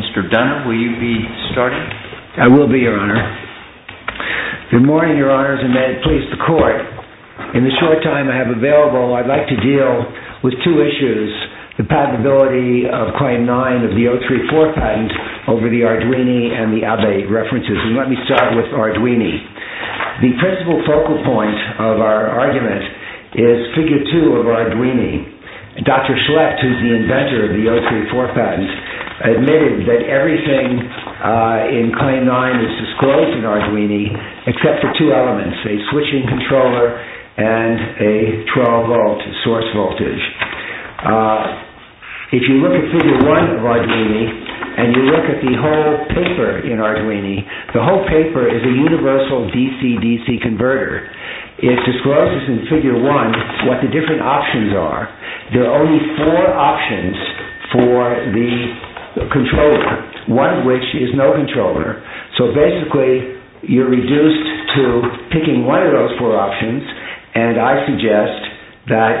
Mr. Dunlap, will you be starting? I will be, Your Honor. Good morning, Your Honors, and may it please the Court. In the short time I have available, I'd like to deal with two issues, the patentability of Claim 9 of the 034 patent over the Arduini and the Abbey references, and let me start with Arduini. The principal focal point of our argument is Figure 2 of Arduini. Dr. Schlecht, who is the inventor of the 034 patent, admitted that everything in Claim 9 is disclosed in Arduini except for two elements, a switching controller and a 12-volt source voltage. If you look at Figure 1 of Arduini and you look at the whole paper in Arduini, the whole paper is a universal DC-DC converter. It discloses in Figure 1 what the different options are. There are only four options for the controller, one of which is no controller, so basically you're reduced to picking one of those four options, and I suggest that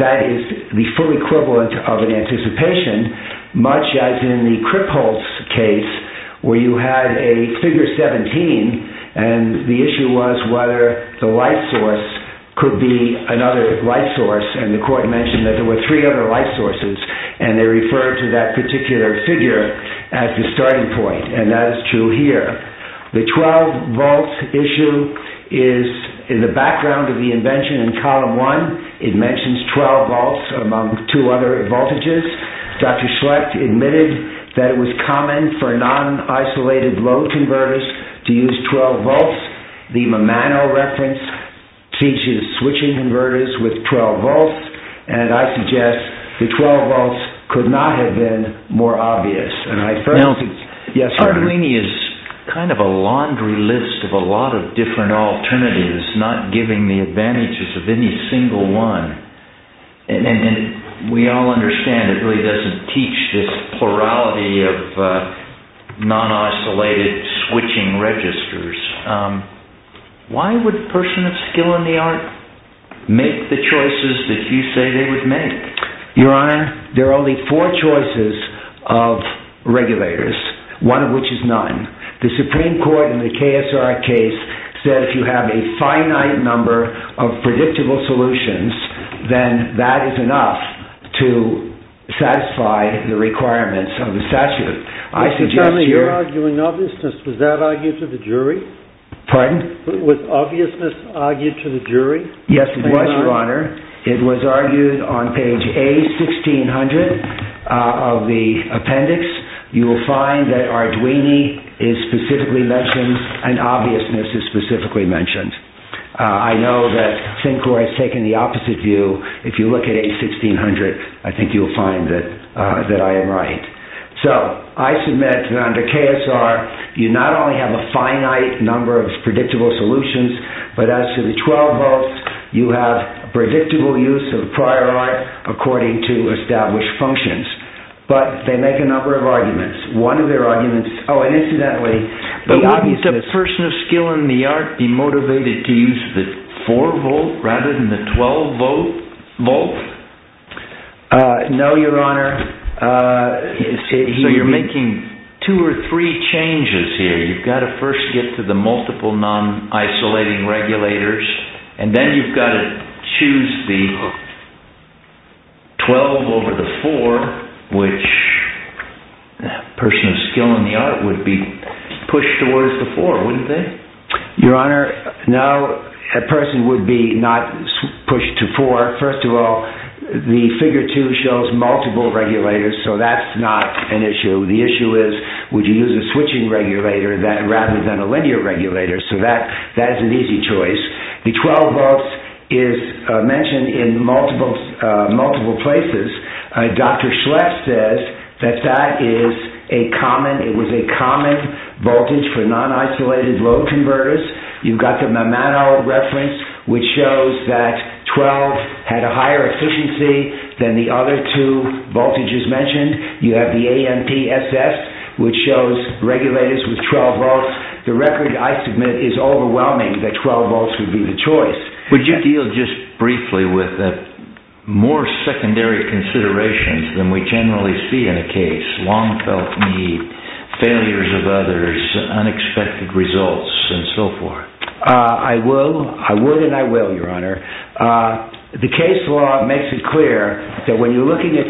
that is the full equivalent of an anticipation, much as in the Kripholz case where you had a Figure 17 and the issue was whether the light source could be another light source, and the Court mentioned that there were three other light sources, and they referred to that particular figure as the starting point, and that is true here. The 12-volt issue is in the background of the invention in Column 1. It mentions 12 volts among two other voltages. Dr. Schlecht admitted that it was common for non-isolated load converters to use 12 volts. The Mimano reference teaches switching converters with 12 volts, and I suggest the 12 volts could not have been more obvious. Now, Arduini is kind of a laundry list of a lot of different alternatives, not giving the advantages of any single one, and we all understand it really doesn't teach this plurality of non-isolated switching registers. Why would a person of skill in the art make the choices that you say they would make? Your Honor, there are only four choices of regulators, one of which is none. The Supreme Court has a finite number of predictable solutions, then that is enough to satisfy the requirements of the statute. Mr. Connolly, you're arguing obviousness. Was that argued to the jury? Pardon? Was obviousness argued to the jury? Yes, it was, Your Honor. It was argued on page A1600 of the appendix. You will find that Arduini is specifically mentioned and obviousness is specifically mentioned. I know that Sinclair has taken the opposite view. If you look at A1600, I think you will find that I am right. So, I submit that under KSR, you not only have a finite number of predictable solutions, but as to the 12 volts, you have predictable use of prior art according to established functions, but they make a number of arguments. One of their arguments, oh, and incidentally, the obviousness... But wouldn't a person of skill in the art be motivated to use the 4 volt rather than the 12 volt? No, Your Honor. So, you're making two or three changes here. You've got to first get to the multiple non-isolating regulators, and then you've got to choose the 12 over the 4, which a person of skill in the art would be pushed towards the 4, wouldn't they? Your Honor, no, a person would be not pushed to 4. First of all, the figure 2 shows multiple regulators, so that's not an issue. The issue is would you use a switching regulator rather than a linear regulator, so that is an easy choice. The 12 volts is mentioned in multiple places. Dr. Schleff says that that is a common, it was a common voltage for non-isolated load converters. You've got the Mammano reference, which shows that 12 had a higher efficiency than the other two voltages mentioned. You have the AMPSS, which shows regulators with 12 volts. The record, I submit, is overwhelming that 12 volts would be the choice. Would you deal just briefly with more secondary considerations than we generally see in a case, long felt need, failures of others, unexpected results, and so forth? I would and I will, Your Honor. The case law makes it clear that when you're looking at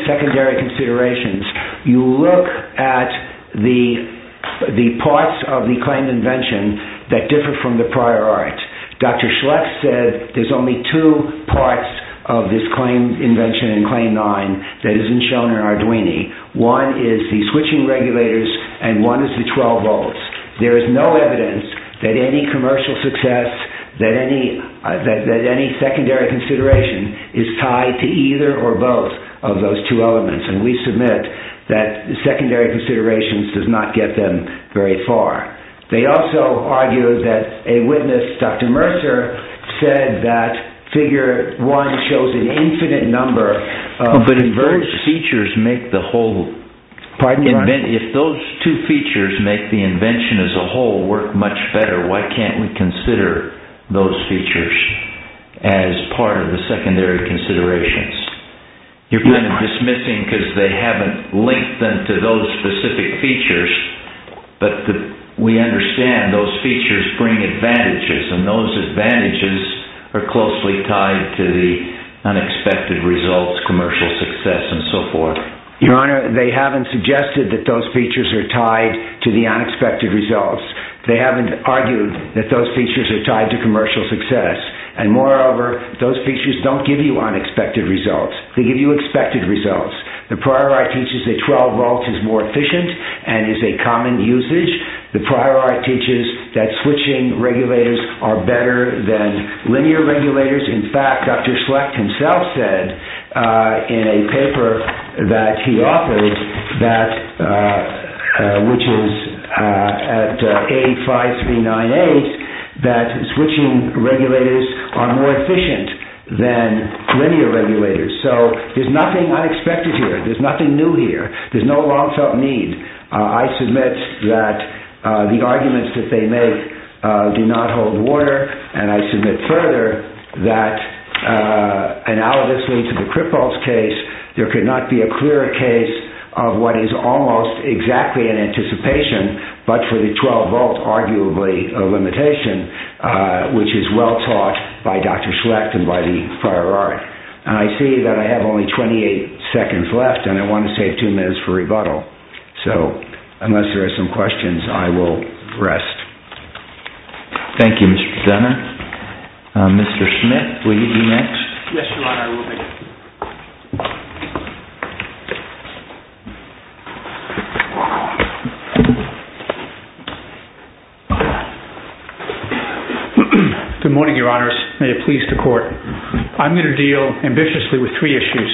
invention that differ from the prior art. Dr. Schleff said there's only two parts of this claim invention in claim 9 that isn't shown in Arduini. One is the switching regulators and one is the 12 volts. There is no evidence that any commercial success, that any secondary consideration is tied to either or both of those two elements, and we submit that secondary considerations does not get them very far. They also argue that a witness, Dr. Mercer, said that figure 1 shows an infinite number of... But if those features make the whole... Pardon, Your Honor? If those two features make the invention as a whole work much better, why can't we consider those features as part of the secondary considerations? You're kind of dismissing because they haven't linked them to those specific features, but we understand those features bring advantages and those advantages are closely tied to the unexpected results, commercial success, and so forth. Your Honor, they haven't suggested that those features are tied to the unexpected results. They haven't argued that those features are tied to commercial success, and moreover, those features don't give you unexpected results. They give you expected results. The Prior Act teaches that 12 volts is more efficient and is a common usage. The Prior Act teaches that switching regulators are better than linear regulators. In fact, Dr. Schlecht himself said in a paper that he authored, which is at A5398, that switching regulators are more efficient than linear regulators. So there's nothing unexpected here. There's nothing new here. There's no long-felt need. I submit that the arguments that they make do not hold water, and I submit further that analogously to the cripples case, there could not be a clearer case of what is almost exactly in anticipation, but for the 12-volt, arguably, limitation, which is well taught by Dr. Schlecht and by the Prior Act. And I see that I have only 28 seconds left, and I want to save two minutes for rebuttal. So unless there are some questions, I will rest. Thank you, Mr. Senator. Mr. Schmidt, will you be next? Yes, Your Honor, I will be. Good morning, Your Honors. May it please the Court. I'm going to deal ambitiously with three issues.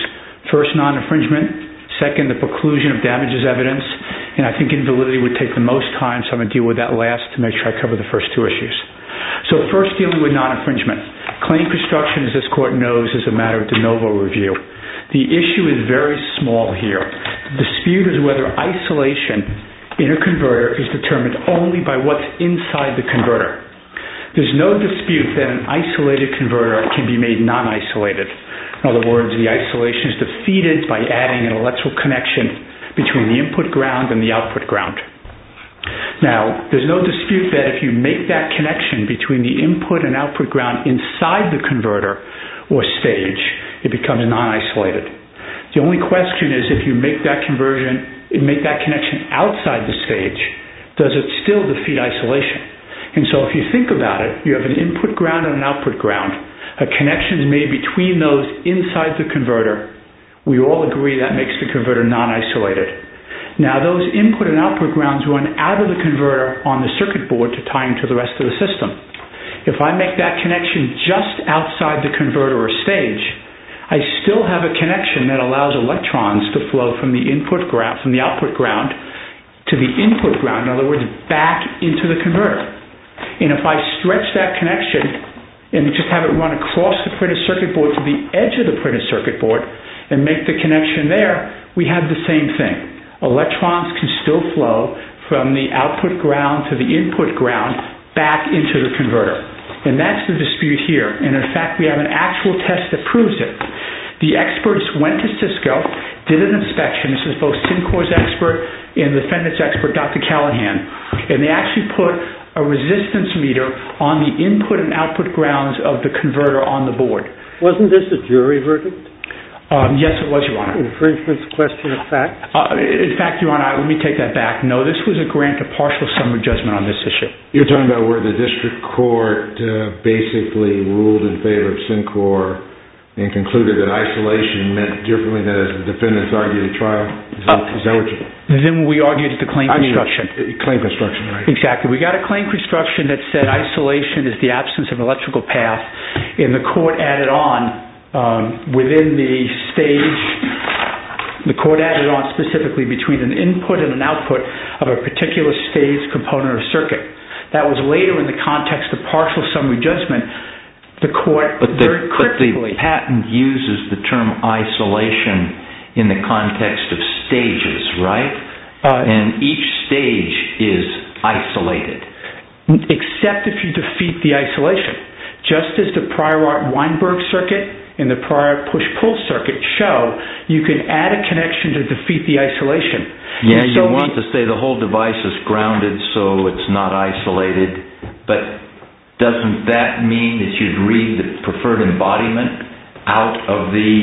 First, non-infringement. Second, the preclusion of damages evidence. And I think invalidity would take the most time, so I'm going to deal with that last to make sure I cover the first two issues. So first, dealing with non-infringement. Claim construction, as this Court knows, is a matter of de novo review. The issue is very small here. The dispute is whether isolation in a converter is determined only by what's inside the converter. There's no dispute that an isolated converter can be made non-isolated. In other words, the isolation is defeated by adding an electrical connection between the input ground and the output ground. Now, there's no dispute that if you make that connection between the input and output ground inside the converter or stage, it becomes non-isolated. The only question is if you make that connection outside the stage, does it still defeat isolation? And so if you think about it, you have an input ground and an output ground. A connection is made between those inside the converter. We all agree that makes the converter non-isolated. Now, those input and output grounds run out of the converter on the circuit board to tie into the rest of the system. If I make that connection just outside the converter or stage, I still have a connection that allows electrons to flow from the output ground to the input ground, in other words, back into the converter. And if I stretch that connection and just have it run across the printed circuit board to the edge of the printed circuit board and make the connection there, we have the same thing. Electrons can still flow from the output ground to the input ground back into the converter. And that's the dispute here. And in fact, we have an actual test that proves it. The experts went to Cisco, did an inspection. This is both Syncor's expert and the defendant's expert, Dr. Callahan. And they actually put a resistance meter on the input and output grounds of the converter on the board. Wasn't this a jury verdict? Yes, it was, Your Honor. Is this a question of fact? In fact, Your Honor, let me take that back. No, this was a grant of partial summary judgment on this issue. You're talking about where the district court basically ruled in favor of Syncor and concluded that isolation meant differently than, as the defendants argue, the trial? Is that what you're... Then we argued the claim construction. Claim construction, right. Exactly. We got a claim construction that said isolation is the absence of electrical path. And the court added on within the stage, the court added on specifically between an output of a particular stage component of circuit. That was later in the context of partial summary judgment, the court very quickly... But the patent uses the term isolation in the context of stages, right? And each stage is isolated. Except if you defeat the isolation. Just as the prior Weinberg circuit and the prior Push-Pull circuit show, you can add a connection to defeat the isolation. Yeah, you want to say the whole device is grounded so it's not isolated, but doesn't that mean that you'd read the preferred embodiment out of the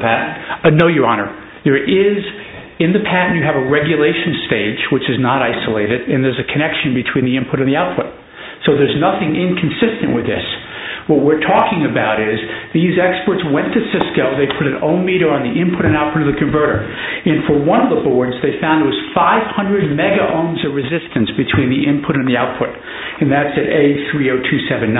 patent? No, Your Honor. In the patent, you have a regulation stage, which is not isolated, and there's a connection between the input and the output. So there's nothing inconsistent with this. What we're talking about is these experts went to Cisco, they put an ohmmeter on the input and output of the converter. And for one of the boards, they found it was 500 megaohms of resistance between the input and the output. And that's at A30279.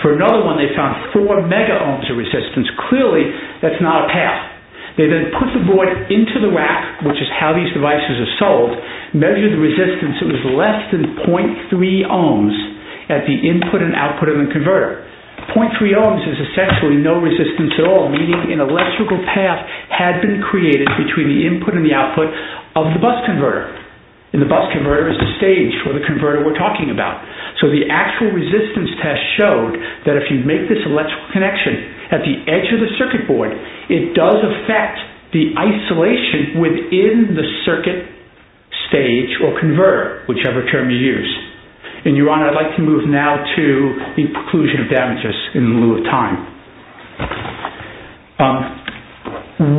For another one, they found 4 megaohms of resistance. Clearly, that's not a path. They then put the board into the rack, which is how these devices are sold, measured the resistance, it was less than 0.3 ohms at the input and output of the converter. 0.3 ohms is essentially no resistance at all, meaning an electrical path had been created between the input and the output of the bus converter. And the bus converter is the stage for the converter we're talking about. So the actual resistance test showed that if you make this electrical connection at the edge of the circuit board, it does affect the isolation within the circuit stage or converter, whichever term you use. And, Your Honor, I'd like to move now to the preclusion of damages in lieu of time.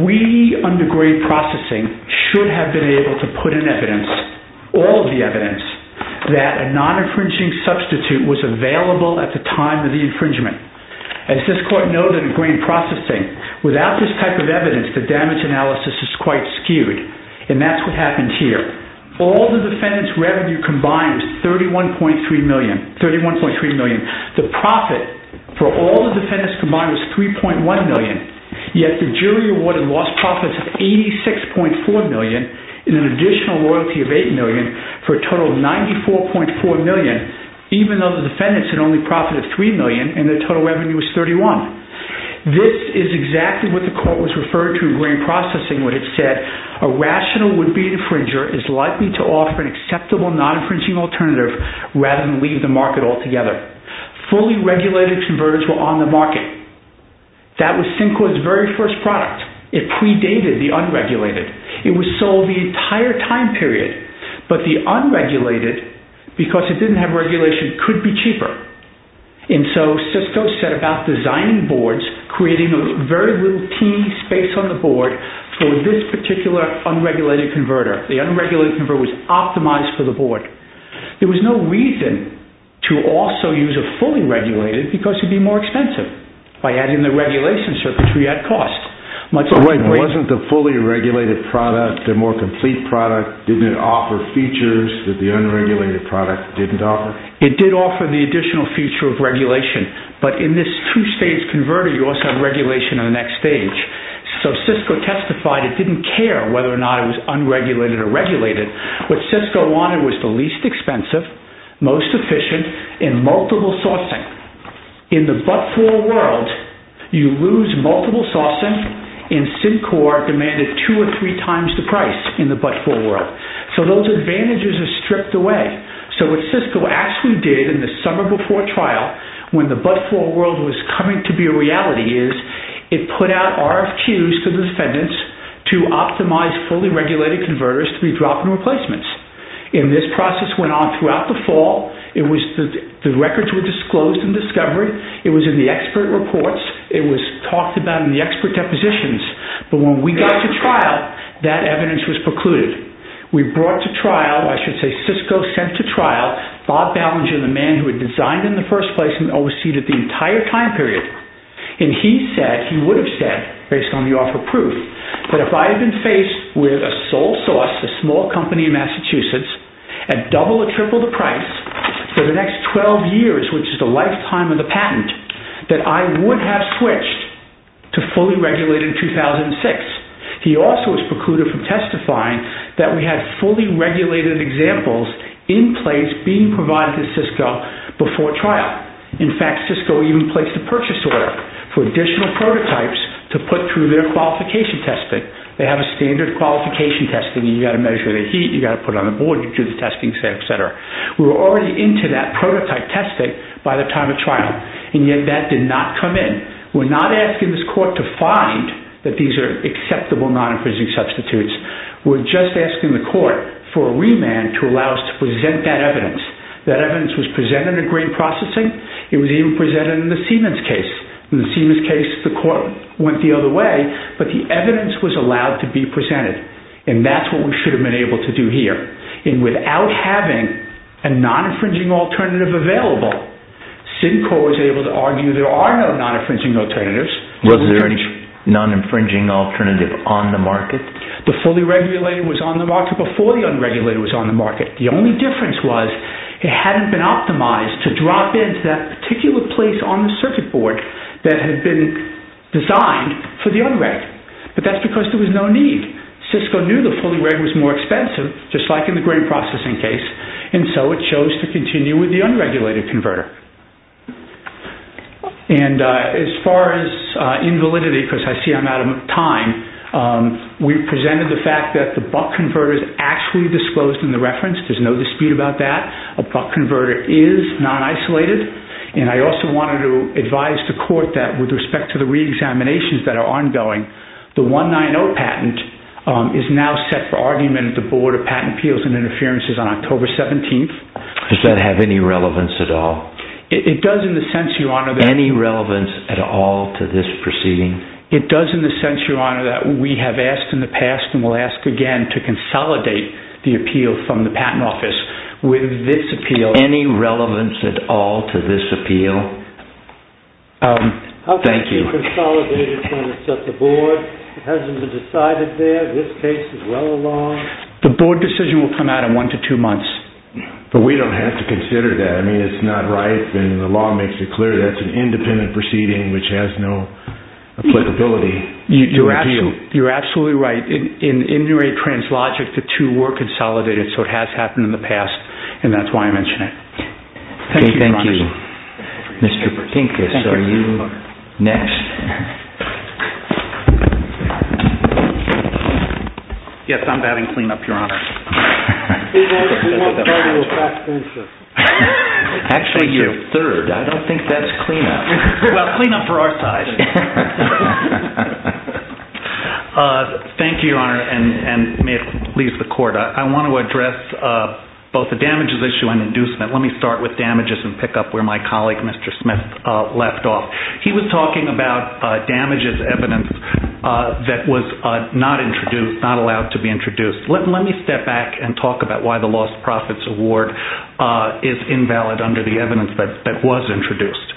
We, under grain processing, should have been able to put in evidence, all of the evidence, that a non-infringing substitute was available at the time of the infringement. As this court noted in grain processing, without this type of evidence, the damage analysis is quite skewed. And that's what happened here. All the defendants' revenue combined was $31.3 million. The profit for all the defendants combined was $3.1 million, yet the jury awarded lost profits of $86.4 million and an additional royalty of $8 million for a total of $94.4 million, even though the defendants had only profited $3 million and their total revenue was $31. This is exactly what the court was referring to in grain processing when it said, a rational would-be infringer is likely to offer an acceptable non-infringing alternative rather than leave the market altogether. Fully regulated converters were on the market. That was Syncord's very first product. It predated the unregulated. It was sold the entire time period. But the unregulated, because it didn't have regulation, could be cheaper. And so Cisco set about designing boards, creating a very little teeny space on the board for this particular unregulated converter. The unregulated converter was optimized for the board. There was no reason to also use a fully regulated because it would be more expensive by adding the regulation circuitry at cost. But wait, wasn't the fully regulated product, the more complete product, didn't it offer features that the unregulated product didn't offer? It did offer the additional feature of regulation. But in this two-stage converter, you also have regulation on the next stage. So Cisco testified it didn't care whether or not it was unregulated or regulated. What Cisco wanted was the least expensive, most efficient, and multiple sourcing. In the but-for world, you lose multiple sourcing, and Syncord demanded two or three times the price in the but-for world. So those advantages are stripped away. So what Cisco actually did in the summer before trial, when the but-for world was coming to be a reality, is it put out RFQs to defendants to optimize fully regulated converters to be dropped in replacements. And this process went on throughout the fall. The records were disclosed and discovered. It was in the expert reports. It was talked about in the expert depositions. But when we got to trial, that evidence was precluded. We brought to trial, or I should say Cisco sent to trial, Bob Ballinger, the man who had designed in the first place and overseeded the entire time period. And he said, he would have said, based on the offer proof, that if I had been faced with a sole source, a small company in Massachusetts, at double or triple the price for the next 12 years, which is the lifetime of the patent, that I would have switched to fully regulated in that we had fully regulated examples in place being provided to Cisco before trial. In fact, Cisco even placed a purchase order for additional prototypes to put through their qualification testing. They have a standard qualification testing. You've got to measure the heat. You've got to put it on the board. You do the testing, et cetera, et cetera. We were already into that prototype testing by the time of trial, and yet that did not come in. We're not asking this court to find that these are acceptable non-infringing substitutes. We're just asking the court for a remand to allow us to present that evidence. That evidence was presented in green processing. It was even presented in the Siemens case. In the Siemens case, the court went the other way, but the evidence was allowed to be presented. And that's what we should have been able to do here. And without having a non-infringing alternative available, SIDNCOR was able to argue there are no non-infringing alternatives. Was there a non-infringing alternative on the market? The fully regulated was on the market before the unregulated was on the market. The only difference was it hadn't been optimized to drop into that particular place on the circuit board that had been designed for the unreg. But that's because there was no need. Cisco knew the fully regulated was more expensive, just like in the green processing case, and so it chose to continue with the unregulated converter. And as far as invalidity, because I see I'm out of time, we presented the fact that the buck converter is actually disclosed in the reference. There's no dispute about that. A buck converter is non-isolated. And I also wanted to advise the court that with respect to the reexaminations that are ongoing, the 190 patent is now set for argument at the Does that have any relevance at all? It does in the sense, Your Honor. Any relevance at all to this proceeding? It does in the sense, Your Honor, that we have asked in the past and will ask again to consolidate the appeal from the patent office with this appeal. Any relevance at all to this appeal? Thank you. How can it be consolidated when it's at the board? It hasn't been decided there. This case is well along. The board decision will come out in one to two months. But we don't have to consider that. I mean, it's not right, and the law makes it clear that's an independent proceeding which has no applicability. You're absolutely right. In Injury Translogic, the two were consolidated, so it has happened in the past, and that's why I mention it. Thank you, Your Honor. Thank you. Mr. Bertinkus, are you next? Yes, I'm batting cleanup, Your Honor. Actually, you're third. I don't think that's cleanup. Well, cleanup for our side. Thank you, Your Honor, and may it please the Court. I want to address both the damages issue and inducement. Let me start with damages and pick up where my colleague, Mr. Smith, left off. He was talking about damages evidence that was not introduced, not allowed to be introduced. Let me step back and talk about why the lost profits award is invalid under the evidence that was introduced.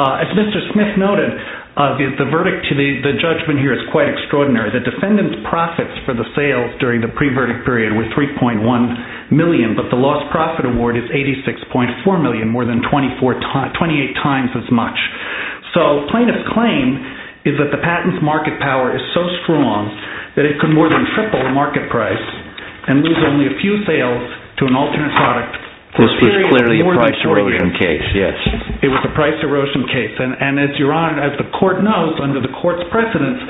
As Mr. Smith noted, the verdict to the judgment here is quite extraordinary. The defendant's profits for the sales during the pre-verdict period were $3.1 million, but the lost profit award is $86.4 million, more than 28 times as much. So plaintiff's claim is that the patent's market power is so strong that it could more than triple the market price and lose only a few sales to an alternate product. This was clearly a price erosion case, yes. It was a price erosion case, and as Your Honor, as the Court knows under the Court's precedence,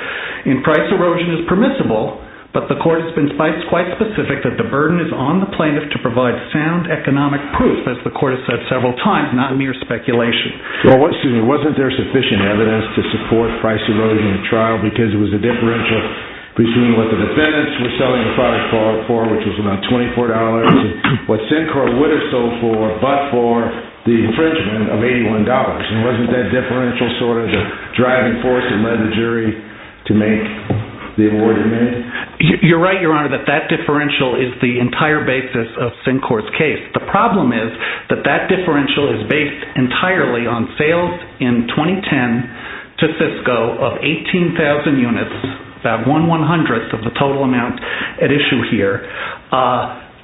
price erosion is permissible, but the Court has been quite specific that the burden is on the plaintiff to provide sound economic proof, as the Court has said several times, not mere speculation. Well, excuse me, wasn't there sufficient evidence to support price erosion in the trial because it was a differential between what the defendants were selling the product for, which was about $24, and what Sinclair would have sold for, but for the infringement of $81? And wasn't that differential sort of the driving force that led the jury to make the award amended? You're right, Your Honor, that that differential is the entire basis of Sinclair's case. The problem is that that differential is based entirely on sales in 2010 to Cisco of 18,000 units, about one one-hundredth of the total amount at issue here,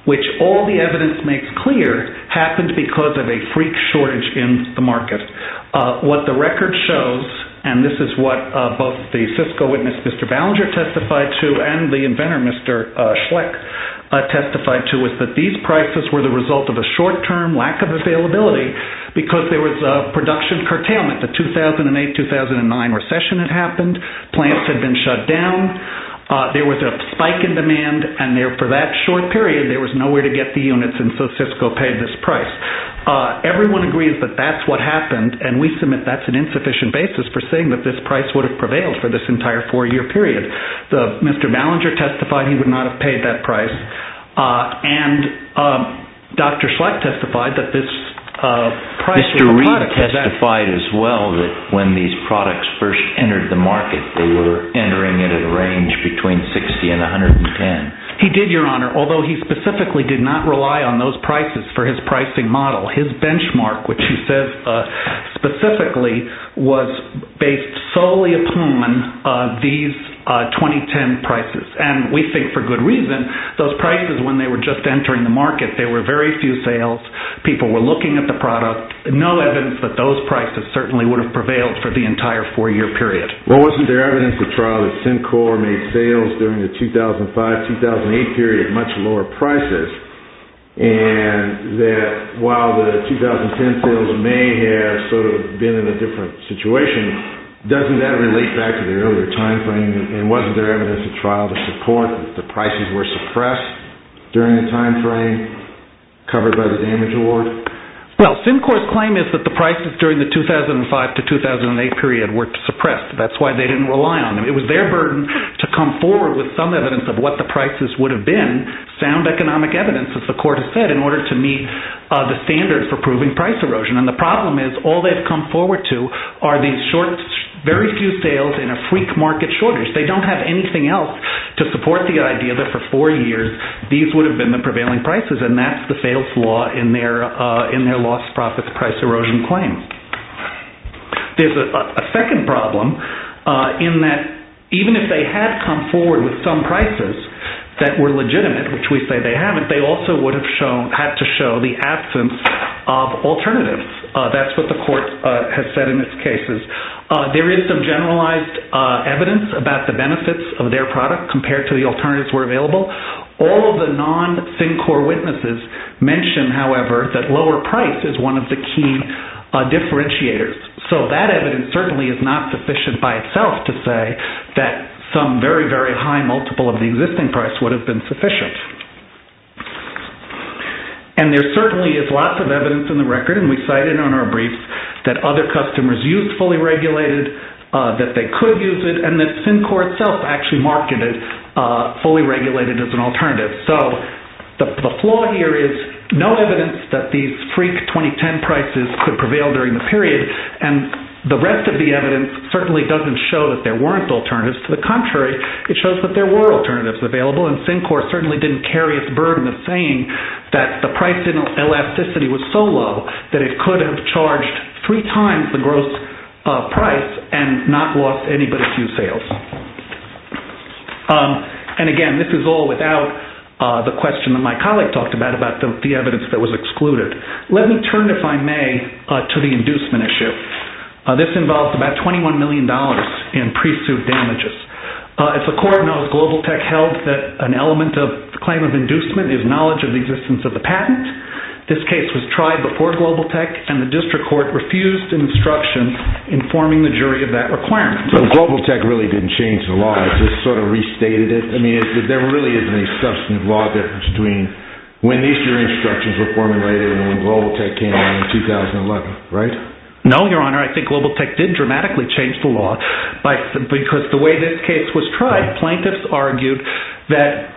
which all the evidence makes clear happened because of a freak shortage in the market. What the record shows, and this is what both the Cisco witness, Mr. Ballinger, testified to, and the inventor, Mr. Schleck, testified to, was that these prices were the result of a short-term lack of availability because there was a production curtailment, the 2008-2009 recession had happened, plants had been shut down, there was a spike in demand, and for that short period there was nowhere to get the units, and so Cisco paid this price. Everyone agrees that that's what happened, and we submit that's an insufficient basis for saying that this price would have prevailed for this entire four-year period. Mr. Ballinger testified he would not have paid that price, and Dr. Schleck testified that this price... Mr. Reed testified as well that when these products first entered the market, they were entering it at a range between $60,000 and $110,000. He did, Your Honor, although he specifically did not rely on those prices for his pricing model. His benchmark, which he says specifically, was based solely upon these 2010 prices, and we think for good reason, those prices when they were just entering the market, there were very few sales, people were looking at the product, no evidence that those prices certainly would have prevailed for the entire four-year period. Well, wasn't there evidence at trial that Syncor made sales during the 2005-2008 period at much lower prices, and that while the 2010 sales may have sort of been in a different situation, doesn't that relate back to the earlier time frame, and wasn't there evidence at trial to support that the prices were suppressed during the time frame, covered by the damage award? Well, Syncor's claim is that the prices during the 2005-2008 period were suppressed. That's why they didn't rely on them. It was their burden to come forward with some evidence of what the prices would have been, sound economic evidence, as the court has said, in order to meet the standards for proving price erosion, and the problem is all they've come forward to are these very few sales and a freak market shortage. They don't have anything else to support the idea that for four years, these would have been the prevailing prices, and that's the sales law in their lost profits price erosion claim. There's a second problem in that even if they had come forward with some prices that were legitimate, which we say they haven't, they also would have had to show the absence of alternatives. That's what the court has said in its cases. There is some generalized evidence about the benefits of their product compared to the alternatives that were available. All of the non-Syncor witnesses mention, however, that lower price is one of the key differentiators. So that evidence certainly is not sufficient by itself to say that some very, very high multiple of the existing price would have been sufficient. And there certainly is lots of evidence in the record, and we cited on our briefs, that other customers used fully regulated, that they could use it, and that Syncor itself actually marketed fully regulated as an alternative. So the flaw here is no evidence that these freak 2010 prices could prevail during the period, and the rest of the evidence certainly doesn't show that there weren't alternatives. To the contrary, it shows that there were alternatives available, and Syncor certainly didn't carry its burden of saying that the price elasticity was so low that it could have charged three times the gross price and not lost any but a few sales. And, again, this is all without the question that my colleague talked about, about the evidence that was excluded. Let me turn, if I may, to the inducement issue. This involves about $21 million in pre-suit damages. As the court knows, Global Tech held that an element of the claim of inducement is knowledge of the existence of the patent. This case was tried before Global Tech, and the district court refused an instruction informing the jury of that requirement. But Global Tech really didn't change the law. It just sort of restated it. I mean, there really isn't any substantive law difference between when these jury instructions were formulated and when Global Tech came in in 2011, right? No, Your Honor. I think Global Tech did dramatically change the law. Because the way this case was tried, plaintiffs argued that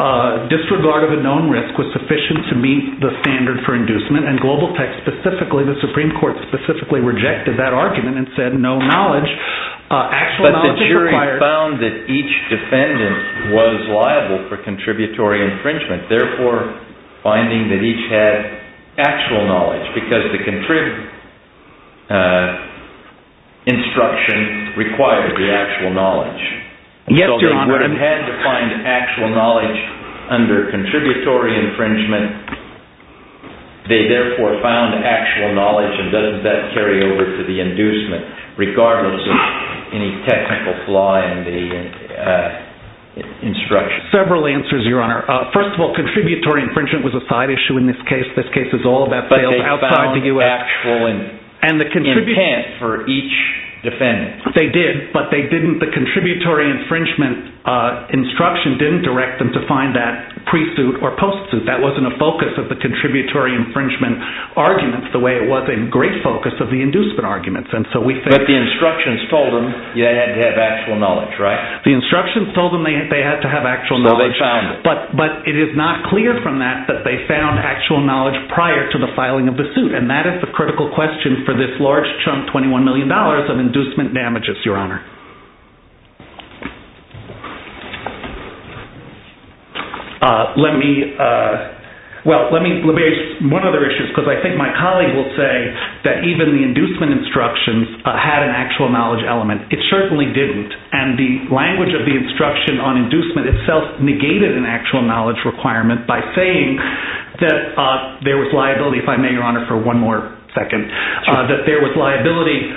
disregard of a known risk was sufficient to meet the standard for inducement, and Global Tech specifically, the Supreme Court specifically, rejected that argument and said no knowledge. But the jury found that each defendant was liable for contributory infringement, therefore finding that each had actual knowledge because the instruction required the actual knowledge. Yes, Your Honor. They would have had to find actual knowledge under contributory infringement. They therefore found actual knowledge, and doesn't that carry over to the inducement, regardless of any technical flaw in the instruction? Several answers, Your Honor. First of all, contributory infringement was a side issue in this case. This case is all about sales outside the U.S. But they found actual intent for each defendant. They did, but the contributory infringement instruction didn't direct them to find that pre-suit or post-suit. That wasn't a focus of the contributory infringement arguments the way it was a great focus of the inducement arguments. But the instructions told them you had to have actual knowledge, right? The instructions told them they had to have actual knowledge. So they found it. But it is not clear from that that they found actual knowledge prior to the filing of the suit, and that is the critical question for this large chunk, $21 million, of inducement damages, Your Honor. Let me – well, let me raise one other issue, because I think my colleague will say that even the inducement instructions had an actual knowledge element. It certainly didn't. And the language of the instruction on inducement itself negated an actual knowledge requirement by saying that there was liability, if I may, Your Honor, for one more second, that there was liability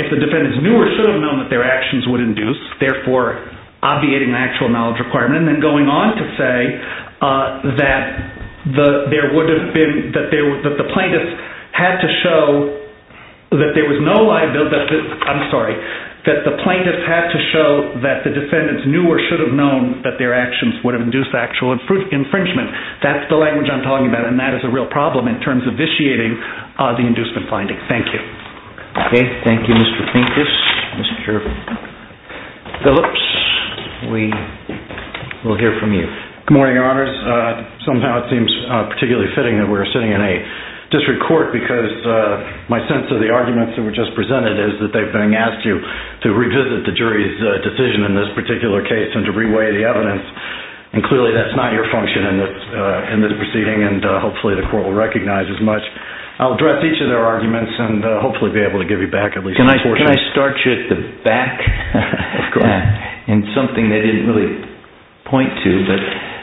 if the defendants knew or should have known that their actions would induce, therefore obviating an actual knowledge requirement, and then going on to say that there would have been – that the plaintiffs had to show that there was no liability – I'm sorry, that the plaintiffs had to show that the defendants knew or should have known that their actions would have induced actual infringement. That's the language I'm talking about, and that is a real problem in terms of vitiating the inducement finding. Thank you. Okay. Thank you, Mr. Pincus. Mr. Phillips, we will hear from you. Good morning, Your Honors. Somehow it seems particularly fitting that we're sitting in a district court because my sense of the arguments that were just presented is that they've been asked to revisit the jury's decision in this particular case and to reweigh the evidence, and clearly that's not your function in this proceeding, and hopefully the court will recognize as much. I'll address each of their arguments and hopefully be able to give you back at least a portion. Can I start you at the back? Of course. In something they didn't really point to, but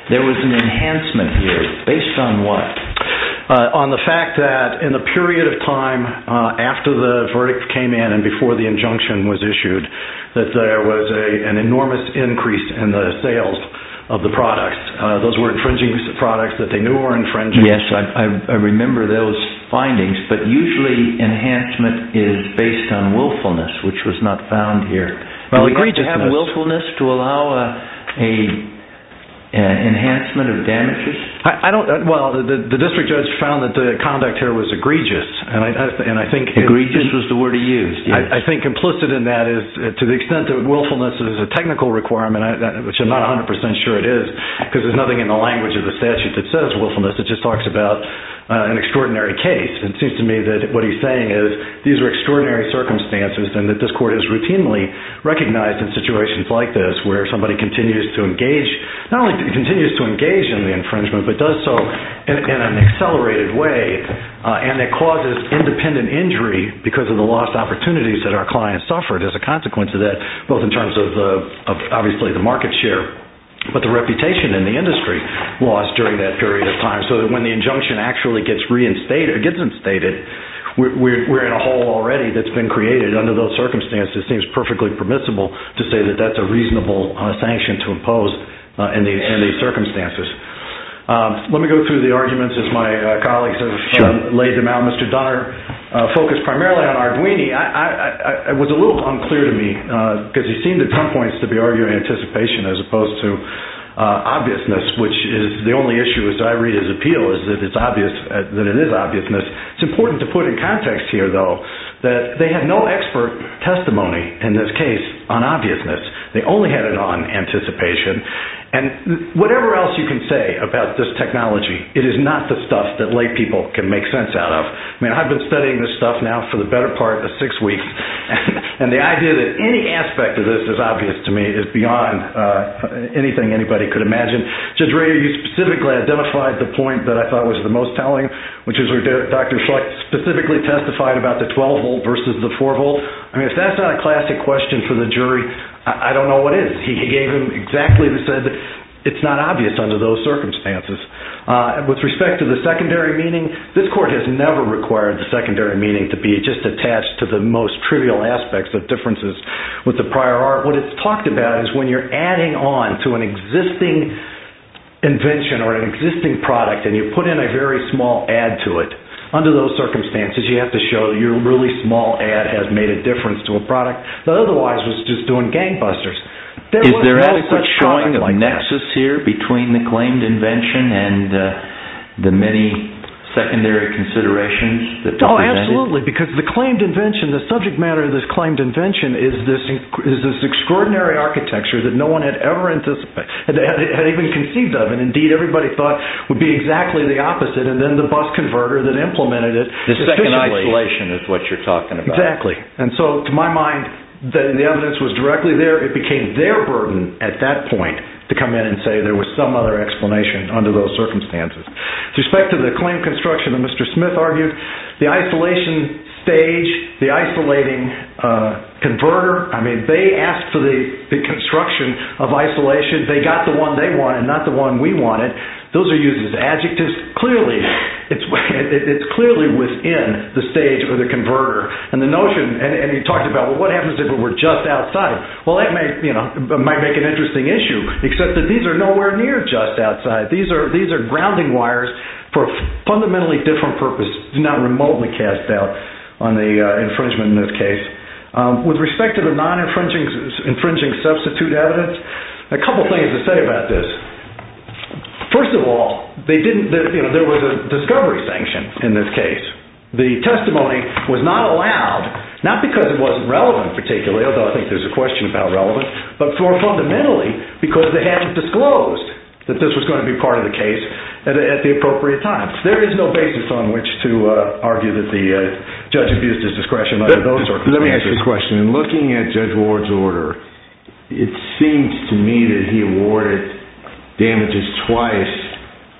there was an enhancement here. Based on what? On the fact that in the period of time after the verdict came in and before the injunction was issued, that there was an enormous increase in the sales of the products. Those were infringing products that they knew were infringing. Yes, I remember those findings, but usually enhancement is based on willfulness, which was not found here. Well, egregiousness. Did they have willfulness to allow an enhancement of damages? Well, the district judge found that the conduct here was egregious. Egregious was the word he used. I think implicit in that is to the extent that willfulness is a technical requirement, which I'm not 100% sure it is because there's nothing in the language of the statute that says willfulness. It just talks about an extraordinary case. It seems to me that what he's saying is these are extraordinary circumstances and that this court has routinely recognized in situations like this where somebody continues to engage, not only continues to engage in the infringement, but does so in an accelerated way and it causes independent injury because of the lost opportunities that our clients suffered as a consequence of that, both in terms of, obviously, the market share, but the reputation in the industry lost during that period of time. So when the injunction actually gets reinstated, we're in a hole already that's been created under those circumstances. It seems perfectly permissible to say that that's a reasonable sanction to impose in these circumstances. Let me go through the arguments as my colleagues have laid them out. Mr. Donner focused primarily on Arduini. It was a little unclear to me because he seemed at some points to be arguing anticipation as opposed to obviousness, which is the only issue as I read his appeal is that it is obviousness. It's important to put in context here, though, that they had no expert testimony in this case on obviousness. They only had it on anticipation. And whatever else you can say about this technology, it is not the stuff that lay people can make sense out of. I mean, I've been studying this stuff now for the better part of six weeks, and the idea that any aspect of this is obvious to me is beyond anything anybody could imagine. Judge Ray, you specifically identified the point that I thought was the most telling, which is where Dr. Schlecht specifically testified about the 12-volt versus the 4-volt. I mean, if that's not a classic question for the jury, I don't know what is. He gave them exactly what he said. It's not obvious under those circumstances. With respect to the secondary meaning, this court has never required the secondary meaning to be just attached to the most trivial aspects of differences with the prior art. What it's talked about is when you're adding on to an existing invention or an existing product and you put in a very small add to it, under those circumstances you have to show your really small add has made a difference to a product that otherwise was just doing gangbusters. Is there any point of nexus here between the claimed invention and the many secondary considerations? Oh, absolutely, because the claimed invention, the subject matter of this claimed invention, is this extraordinary architecture that no one had ever anticipated, had even conceived of, and indeed everybody thought would be exactly the opposite, and then the bus converter that implemented it. The second isolation is what you're talking about. Exactly, and so to my mind the evidence was directly there. It became their burden at that point to come in and say there was some other explanation under those circumstances. With respect to the claimed construction that Mr. Smith argued, the isolation stage, the isolating converter, they asked for the construction of isolation. They got the one they wanted, not the one we wanted. Those are used as adjectives. It's clearly within the stage of the converter, and the notion, and he talked about what happens if it were just outside. Well, that might make an interesting issue, except that these are nowhere near just outside. These are grounding wires for a fundamentally different purpose, not remotely cast out on the infringement in this case. With respect to the non-infringing substitute evidence, a couple things to say about this. First of all, there was a discovery sanction in this case. The testimony was not allowed, not because it wasn't relevant particularly, although I think there's a question about relevance, but more fundamentally because they hadn't disclosed that this was going to be part of the case at the appropriate time. There is no basis on which to argue that the judge abused his discretion under those circumstances. Let me ask you a question. In looking at Judge Ward's order, it seems to me that he awarded damages twice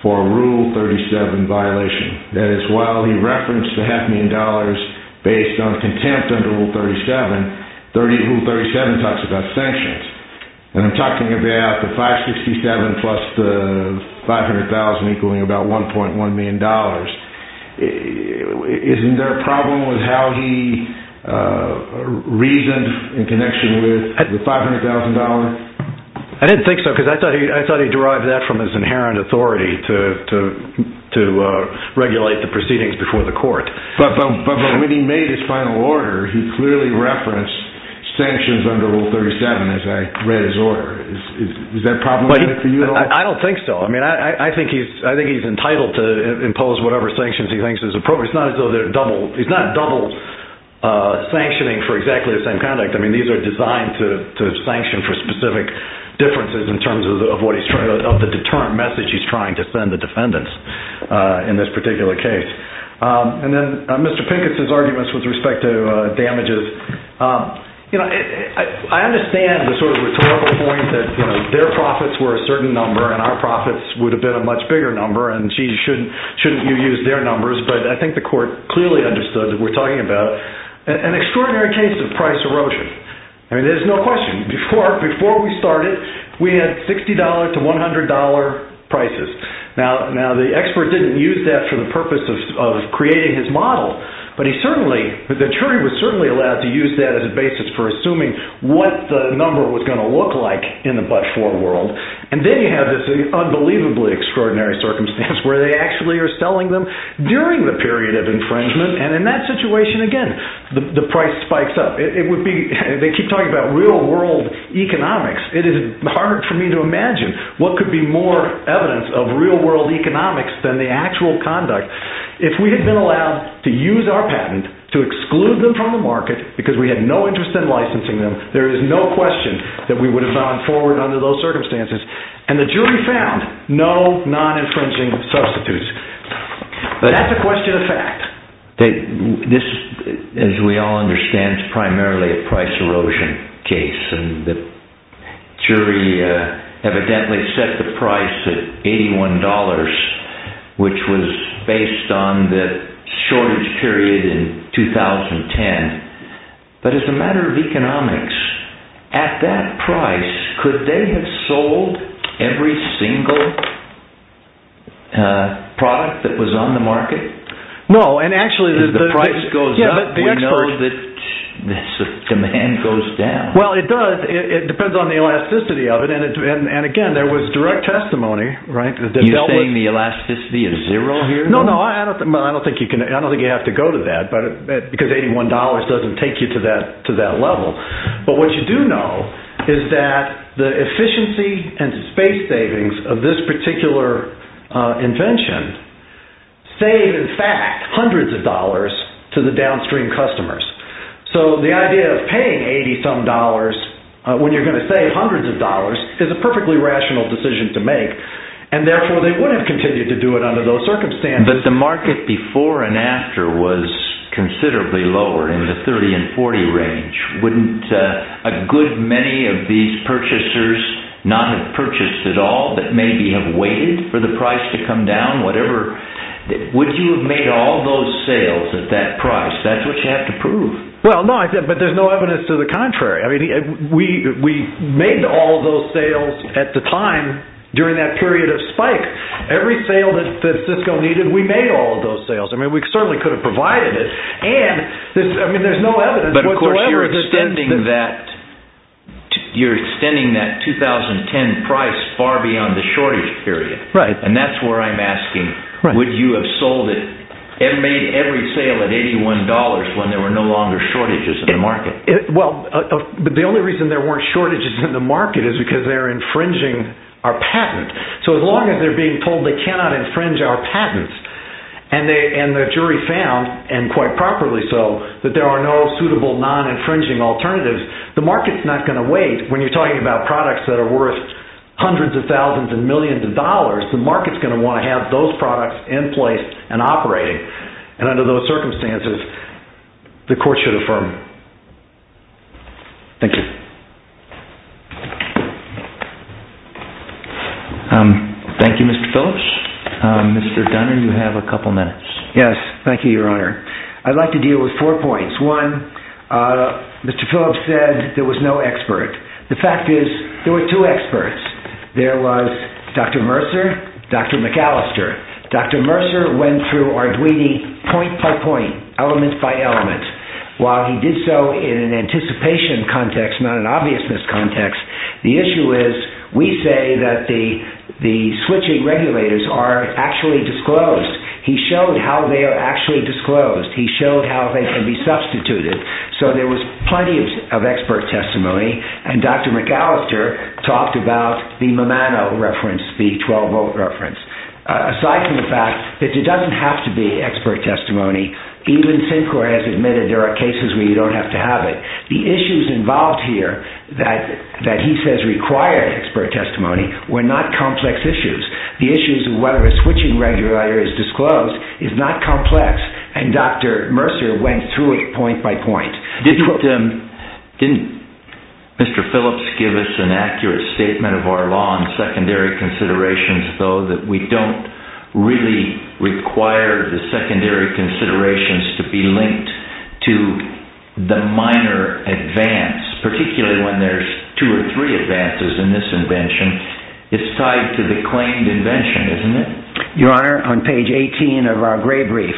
for a Rule 37 violation. That is, while he referenced the half million dollars based on contempt under Rule 37, Rule 37 talks about sanctions. I'm talking about the 567 plus the 500,000 equaling about $1.1 million. Isn't there a problem with how he reasoned in connection with the $500,000? I didn't think so because I thought he derived that from his inherent authority to regulate the proceedings before the court. But when he made his final order, he clearly referenced sanctions under Rule 37 as I read his order. Is that problematic for you at all? I don't think so. I think he's entitled to impose whatever sanctions he thinks is appropriate. It's not double sanctioning for exactly the same conduct. These are designed to sanction for specific differences in terms of the deterrent message he's trying to send the defendants in this particular case. And then Mr. Pincus' arguments with respect to damages. I understand the sort of rhetorical point that their profits were a certain number and our profits would have been a much bigger number and shouldn't you use their numbers. But I think the court clearly understood that we're talking about an extraordinary case of price erosion. There's no question. Before we started, we had $60 to $100 prices. Now, the expert didn't use that for the purpose of creating his model. But the jury was certainly allowed to use that as a basis for assuming what the number was going to look like in the but-for world. And then you have this unbelievably extraordinary circumstance where they actually are selling them during the period of infringement. And in that situation, again, the price spikes up. They keep talking about real-world economics. It is hard for me to imagine what could be more evidence of real-world economics than the actual conduct. If we had been allowed to use our patent to exclude them from the market because we had no interest in licensing them, there is no question that we would have gone forward under those circumstances. And the jury found no non-infringing substitutes. That's a question of fact. This, as we all understand, is primarily a price erosion case. And the jury evidently set the price at $81, which was based on the shortage period in 2010. But as a matter of economics, at that price, could they have sold every single product that was on the market? If the price goes up, we know that the demand goes down. Well, it does. It depends on the elasticity of it. And, again, there was direct testimony. Are you saying the elasticity is zero here? No, no. I don't think you have to go to that because $81 doesn't take you to that level. But what you do know is that the efficiency and space savings of this particular invention save, in fact, hundreds of dollars to the downstream customers. So the idea of paying 80-some dollars when you're going to save hundreds of dollars is a perfectly rational decision to make. And, therefore, they would have continued to do it under those circumstances. But the market before and after was considerably lower in the $30 and $40 range. Wouldn't a good many of these purchasers not have purchased at all but maybe have waited for the price to come down? Would you have made all those sales at that price? That's what you have to prove. Well, no, but there's no evidence to the contrary. We made all those sales at the time during that period of spike. Every sale that Cisco needed, we made all of those sales. I mean, we certainly could have provided it. But, of course, you're extending that 2010 price far beyond the shortage period. And that's where I'm asking, would you have sold it and made every sale at $81 when there were no longer shortages in the market? Well, the only reason there weren't shortages in the market is because they're infringing our patent. So as long as they're being told they cannot infringe our patents and the jury found, and quite properly so, that there are no suitable non-infringing alternatives, the market's not going to wait. When you're talking about products that are worth hundreds of thousands and millions of dollars, the market's going to want to have those products in place and operating. And under those circumstances, the court should affirm. Thank you. Thank you, Mr. Phillips. Mr. Dunner, you have a couple minutes. Yes, thank you, Your Honor. I'd like to deal with four points. One, Mr. Phillips said there was no expert. The fact is, there were two experts. There was Dr. Mercer, Dr. McAllister. Dr. Mercer went through Arduini point by point, element by element. While he did so in an anticipation context, not an obviousness context, the issue is, we say that the switching regulators are actually disclosed. He showed how they are actually disclosed. He showed how they can be substituted. So there was plenty of expert testimony. And Dr. McAllister talked about the Mamano reference, the 12-volt reference. Aside from the fact that there doesn't have to be expert testimony, even Syncor has admitted there are cases where you don't have to have it. The issues involved here that he says required expert testimony were not complex issues. The issues of whether a switching regulator is disclosed is not complex, and Dr. Mercer went through it point by point. Didn't Mr. Phillips give us an accurate statement of our law on secondary considerations, though, that we don't really require the secondary considerations to be linked to the minor advance, particularly when there's two or three advances in this invention? It's tied to the claimed invention, isn't it? Your Honor, on page 18 of our gray brief,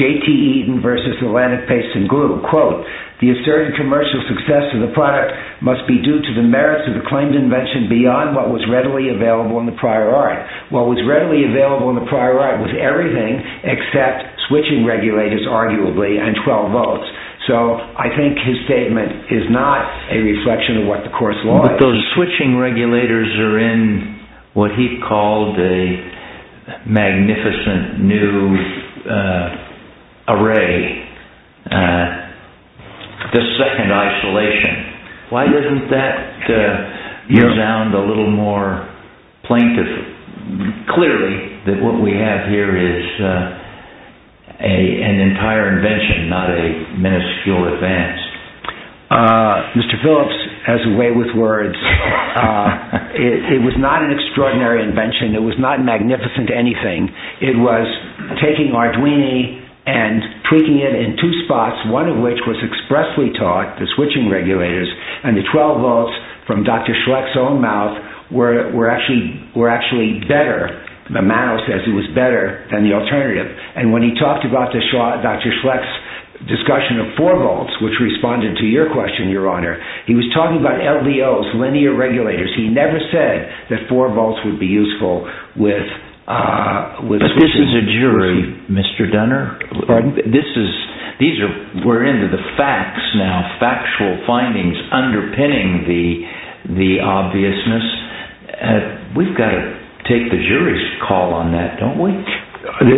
J.T. Eaton v. Atlantic Paste & Glue, quote, the asserted commercial success of the product must be due to the merits of the claimed invention beyond what was readily available in the prior art. What was readily available in the prior art was everything except switching regulators, arguably, and 12 volts. So I think his statement is not a reflection of what the course of law is. But those switching regulators are in what he called a magnificent new array, the second isolation. Why doesn't that sound a little more plaintive, clearly, that what we have here is an entire invention, not a minuscule advance? Mr. Phillips has a way with words. It was not an extraordinary invention. It was not magnificent to anything. It was taking Arduini and tweaking it in two spots, one of which was expressly taught, the switching regulators, and the 12 volts from Dr. Schlecht's own mouth were actually better. The mouse says it was better than the alternative. And when he talked about Dr. Schlecht's discussion of 4 volts, which responded to your question, Your Honor, he was talking about LDOs, linear regulators. He never said that 4 volts would be useful with switching. But this is a jury, Mr. Dunner. Pardon? We're into the facts now, factual findings underpinning the obviousness. We've got to take the jury's call on that, don't we?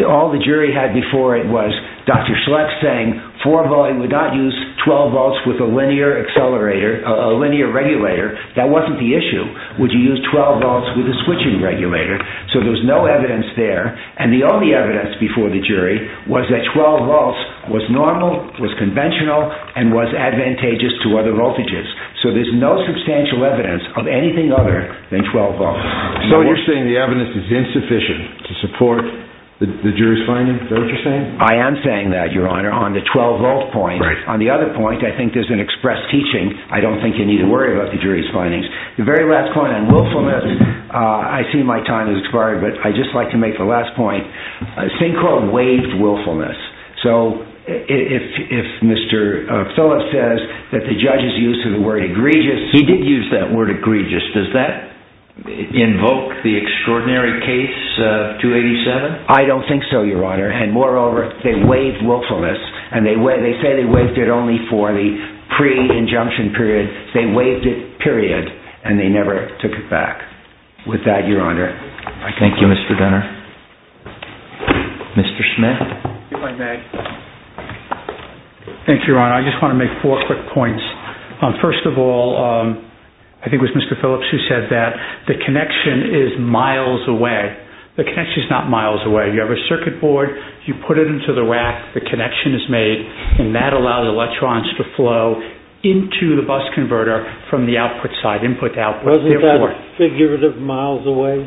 All the jury had before it was Dr. Schlecht saying 4 volts would not use 12 volts with a linear regulator. That wasn't the issue. Would you use 12 volts with a switching regulator? So there's no evidence there. And the only evidence before the jury was that 12 volts was normal, was conventional, and was advantageous to other voltages. So there's no substantial evidence of anything other than 12 volts. So you're saying the evidence is insufficient to support the jury's findings? Is that what you're saying? I am saying that, Your Honor, on the 12-volt point. On the other point, I think there's an express teaching. I don't think you need to worry about the jury's findings. The very last point on willfulness, I see my time has expired, but I'd just like to make the last point. Synchro waived willfulness. So if Mr. Phillips says that the judge's use of the word egregious— He did use that word egregious. Does that invoke the extraordinary case of 287? I don't think so, Your Honor. And moreover, they waived willfulness, and they say they waived it only for the pre-injunction period. They waived it, period, and they never took it back. With that, Your Honor. Thank you, Mr. Gunner. Mr. Schmidt. If I may. Thank you, Your Honor. I just want to make four quick points. First of all, I think it was Mr. Phillips who said that the connection is miles away. The connection is not miles away. You have a circuit board. You put it into the rack. The connection is made, and that allows electrons to flow into the bus converter from the output side, input to output. Wasn't that figurative miles away?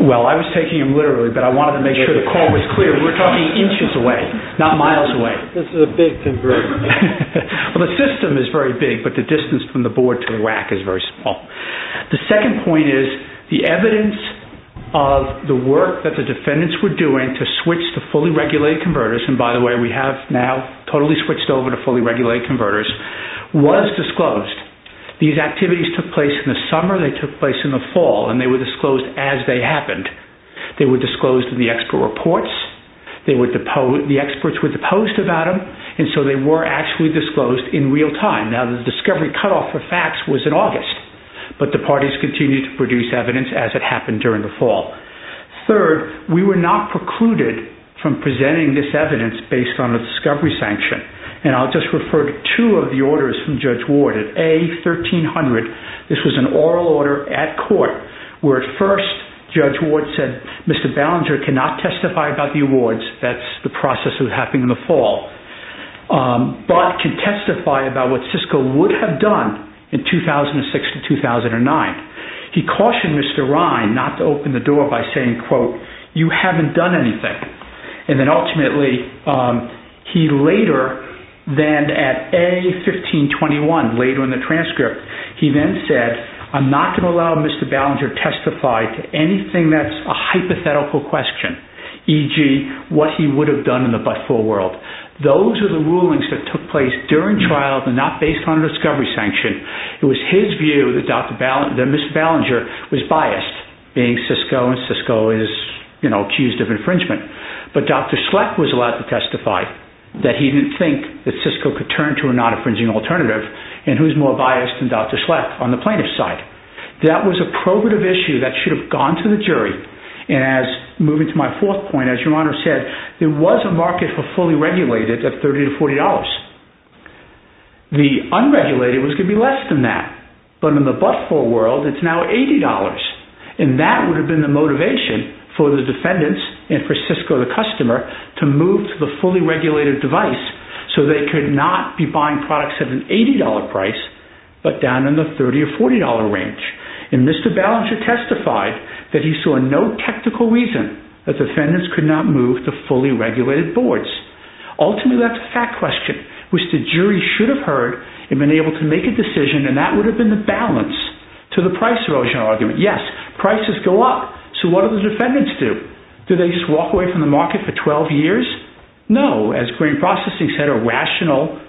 Well, I was taking him literally, but I wanted to make sure the call was clear. We're talking inches away, not miles away. This is a big converter. Well, the system is very big, but the distance from the board to the rack is very small. The second point is the evidence of the work that the defendants were doing to switch to fully regulated converters— and by the way, we have now totally switched over to fully regulated converters—was disclosed. These activities took place in the summer. They took place in the fall, and they were disclosed as they happened. They were disclosed in the expert reports. The experts were deposed about them, and so they were actually disclosed in real time. Now, the discovery cutoff for facts was in August, but the parties continued to produce evidence as it happened during the fall. Third, we were not precluded from presenting this evidence based on a discovery sanction, and I'll just refer to two of the orders from Judge Ward. At A1300, this was an oral order at court where, at first, Judge Ward said, Mr. Ballenger cannot testify about the awards—that's the process that was happening in the fall— but can testify about what Cisco would have done in 2006 to 2009. He cautioned Mr. Ryan not to open the door by saying, quote, you haven't done anything, and then ultimately, he later, then at A1521, later in the transcript, he then said, I'm not going to allow Mr. Ballenger to testify to anything that's a hypothetical question, e.g., what he would have done in the but-for world. Those are the rulings that took place during trial but not based on a discovery sanction. It was his view that Mr. Ballenger was biased, being Cisco, and Cisco is, you know, accused of infringement, but Dr. Schlecht was allowed to testify that he didn't think that Cisco could turn to a non-infringing alternative, and who's more biased than Dr. Schlecht on the plaintiff's side? That was a probative issue that should have gone to the jury, and as—moving to my fourth point, as Your Honor said, there was a market for fully regulated at $30 to $40. The unregulated was going to be less than that, but in the but-for world, it's now $80. And that would have been the motivation for the defendants and for Cisco, the customer, to move to the fully regulated device so they could not be buying products at an $80 price but down in the $30 or $40 range. And Mr. Ballenger testified that he saw no technical reason that defendants could not move to fully regulated boards. Ultimately, that's a fact question, which the jury should have heard and been able to make a decision, and that would have been the balance to the price erosion argument. Yes, prices go up, so what do the defendants do? Do they just walk away from the market for 12 years? No. As Green Processing said, a rational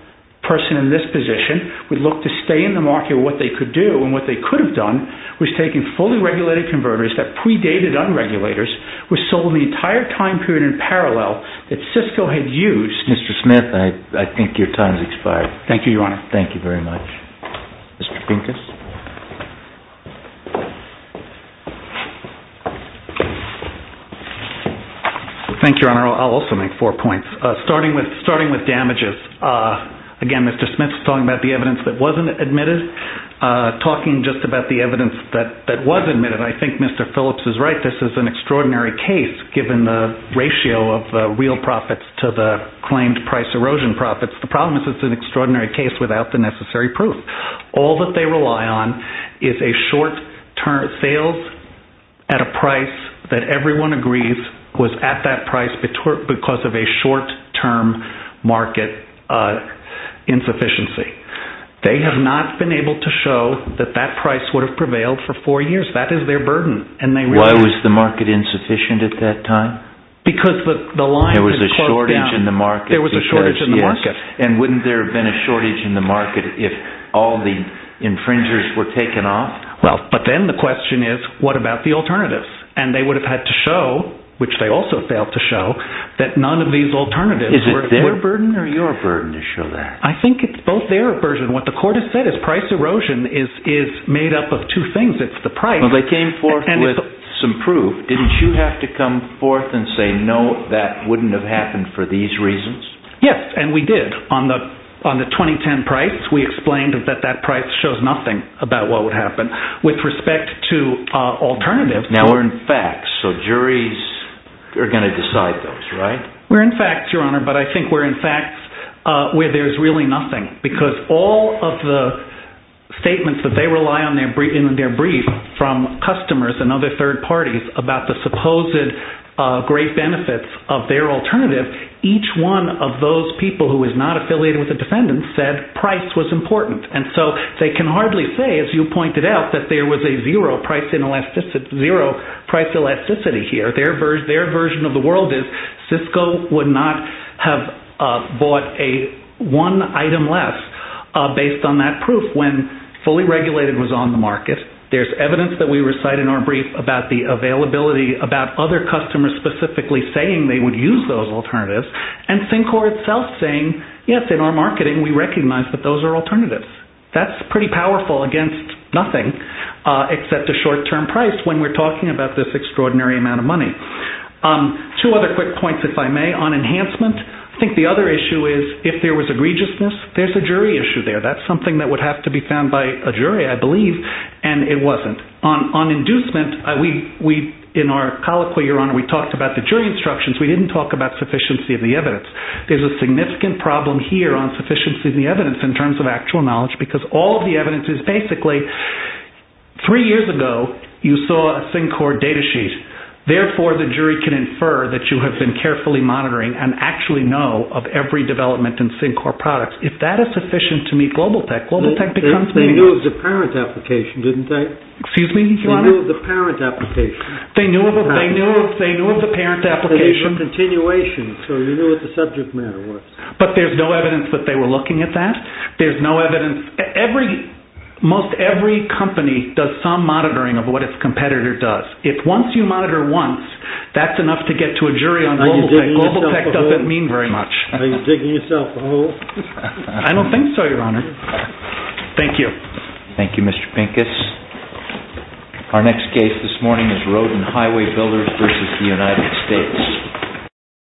person in this position would look to stay in the market with what they could do, and what they could have done was taken fully regulated converters that predated unregulators, were sold the entire time period in parallel that Cisco had used— Mr. Smith, I think your time has expired. Thank you, Your Honor. Thank you very much. Mr. Pincus? Thank you, Your Honor. I'll also make four points. Starting with damages, again, Mr. Smith's talking about the evidence that wasn't admitted. Talking just about the evidence that was admitted, I think Mr. Phillips is right. This is an extraordinary case given the ratio of real profits to the claimed price erosion profits. The problem is it's an extraordinary case without the necessary proof. All that they rely on is a short-term—sales at a price that everyone agrees was at that price because of a short-term market insufficiency. They have not been able to show that that price would have prevailed for four years. That is their burden. Why was the market insufficient at that time? Because the line had closed down. There was a shortage in the market. And wouldn't there have been a shortage in the market if all the infringers were taken off? But then the question is, what about the alternatives? And they would have had to show, which they also failed to show, that none of these alternatives were— Is it their burden or your burden to show that? I think it's both their burden. What the court has said is price erosion is made up of two things. It's the price— Well, they came forth with some proof. Didn't you have to come forth and say, no, that wouldn't have happened for these reasons? Yes, and we did. On the 2010 price, we explained that that price shows nothing about what would happen. With respect to alternatives— Now, we're in facts, so juries are going to decide those, right? We're in facts, Your Honor, but I think we're in facts where there's really nothing because all of the statements that they rely on in their brief from customers and other third parties about the supposed great benefits of their alternative, each one of those people who is not affiliated with the defendants said price was important. And so they can hardly say, as you pointed out, that there was a zero price elasticity here. Their version of the world is Cisco would not have bought one item less based on that proof when fully regulated was on the market. There's evidence that we recite in our brief about the availability, about other customers specifically saying they would use those alternatives, and Syncor itself saying, yes, in our marketing, we recognize that those are alternatives. That's pretty powerful against nothing except the short-term price when we're talking about this extraordinary amount of money. Two other quick points, if I may, on enhancement. I think the other issue is if there was egregiousness, there's a jury issue there. That's something that would have to be found by a jury, I believe, and it wasn't. On inducement, in our colloquy, Your Honor, we talked about the jury instructions. We didn't talk about sufficiency of the evidence. There's a significant problem here on sufficiency of the evidence in terms of actual knowledge because all of the evidence is basically three years ago you saw a Syncor data sheet. Therefore, the jury can infer that you have been carefully monitoring and actually know of every development in Syncor products. If that is sufficient to meet GlobalTek, GlobalTek becomes meaningful. They knew of the parent application, didn't they? Excuse me, Your Honor? They knew of the parent application. They knew of the parent application. It's a continuation, so you knew what the subject matter was. But there's no evidence that they were looking at that. There's no evidence. Most every company does some monitoring of what its competitor does. If once you monitor once, that's enough to get to a jury on GlobalTek. GlobalTek doesn't mean very much. Are you digging yourself a hole? I don't think so, Your Honor. Thank you. Thank you, Mr. Pincus. Our next case this morning is Road and Highway Builders v. The United States.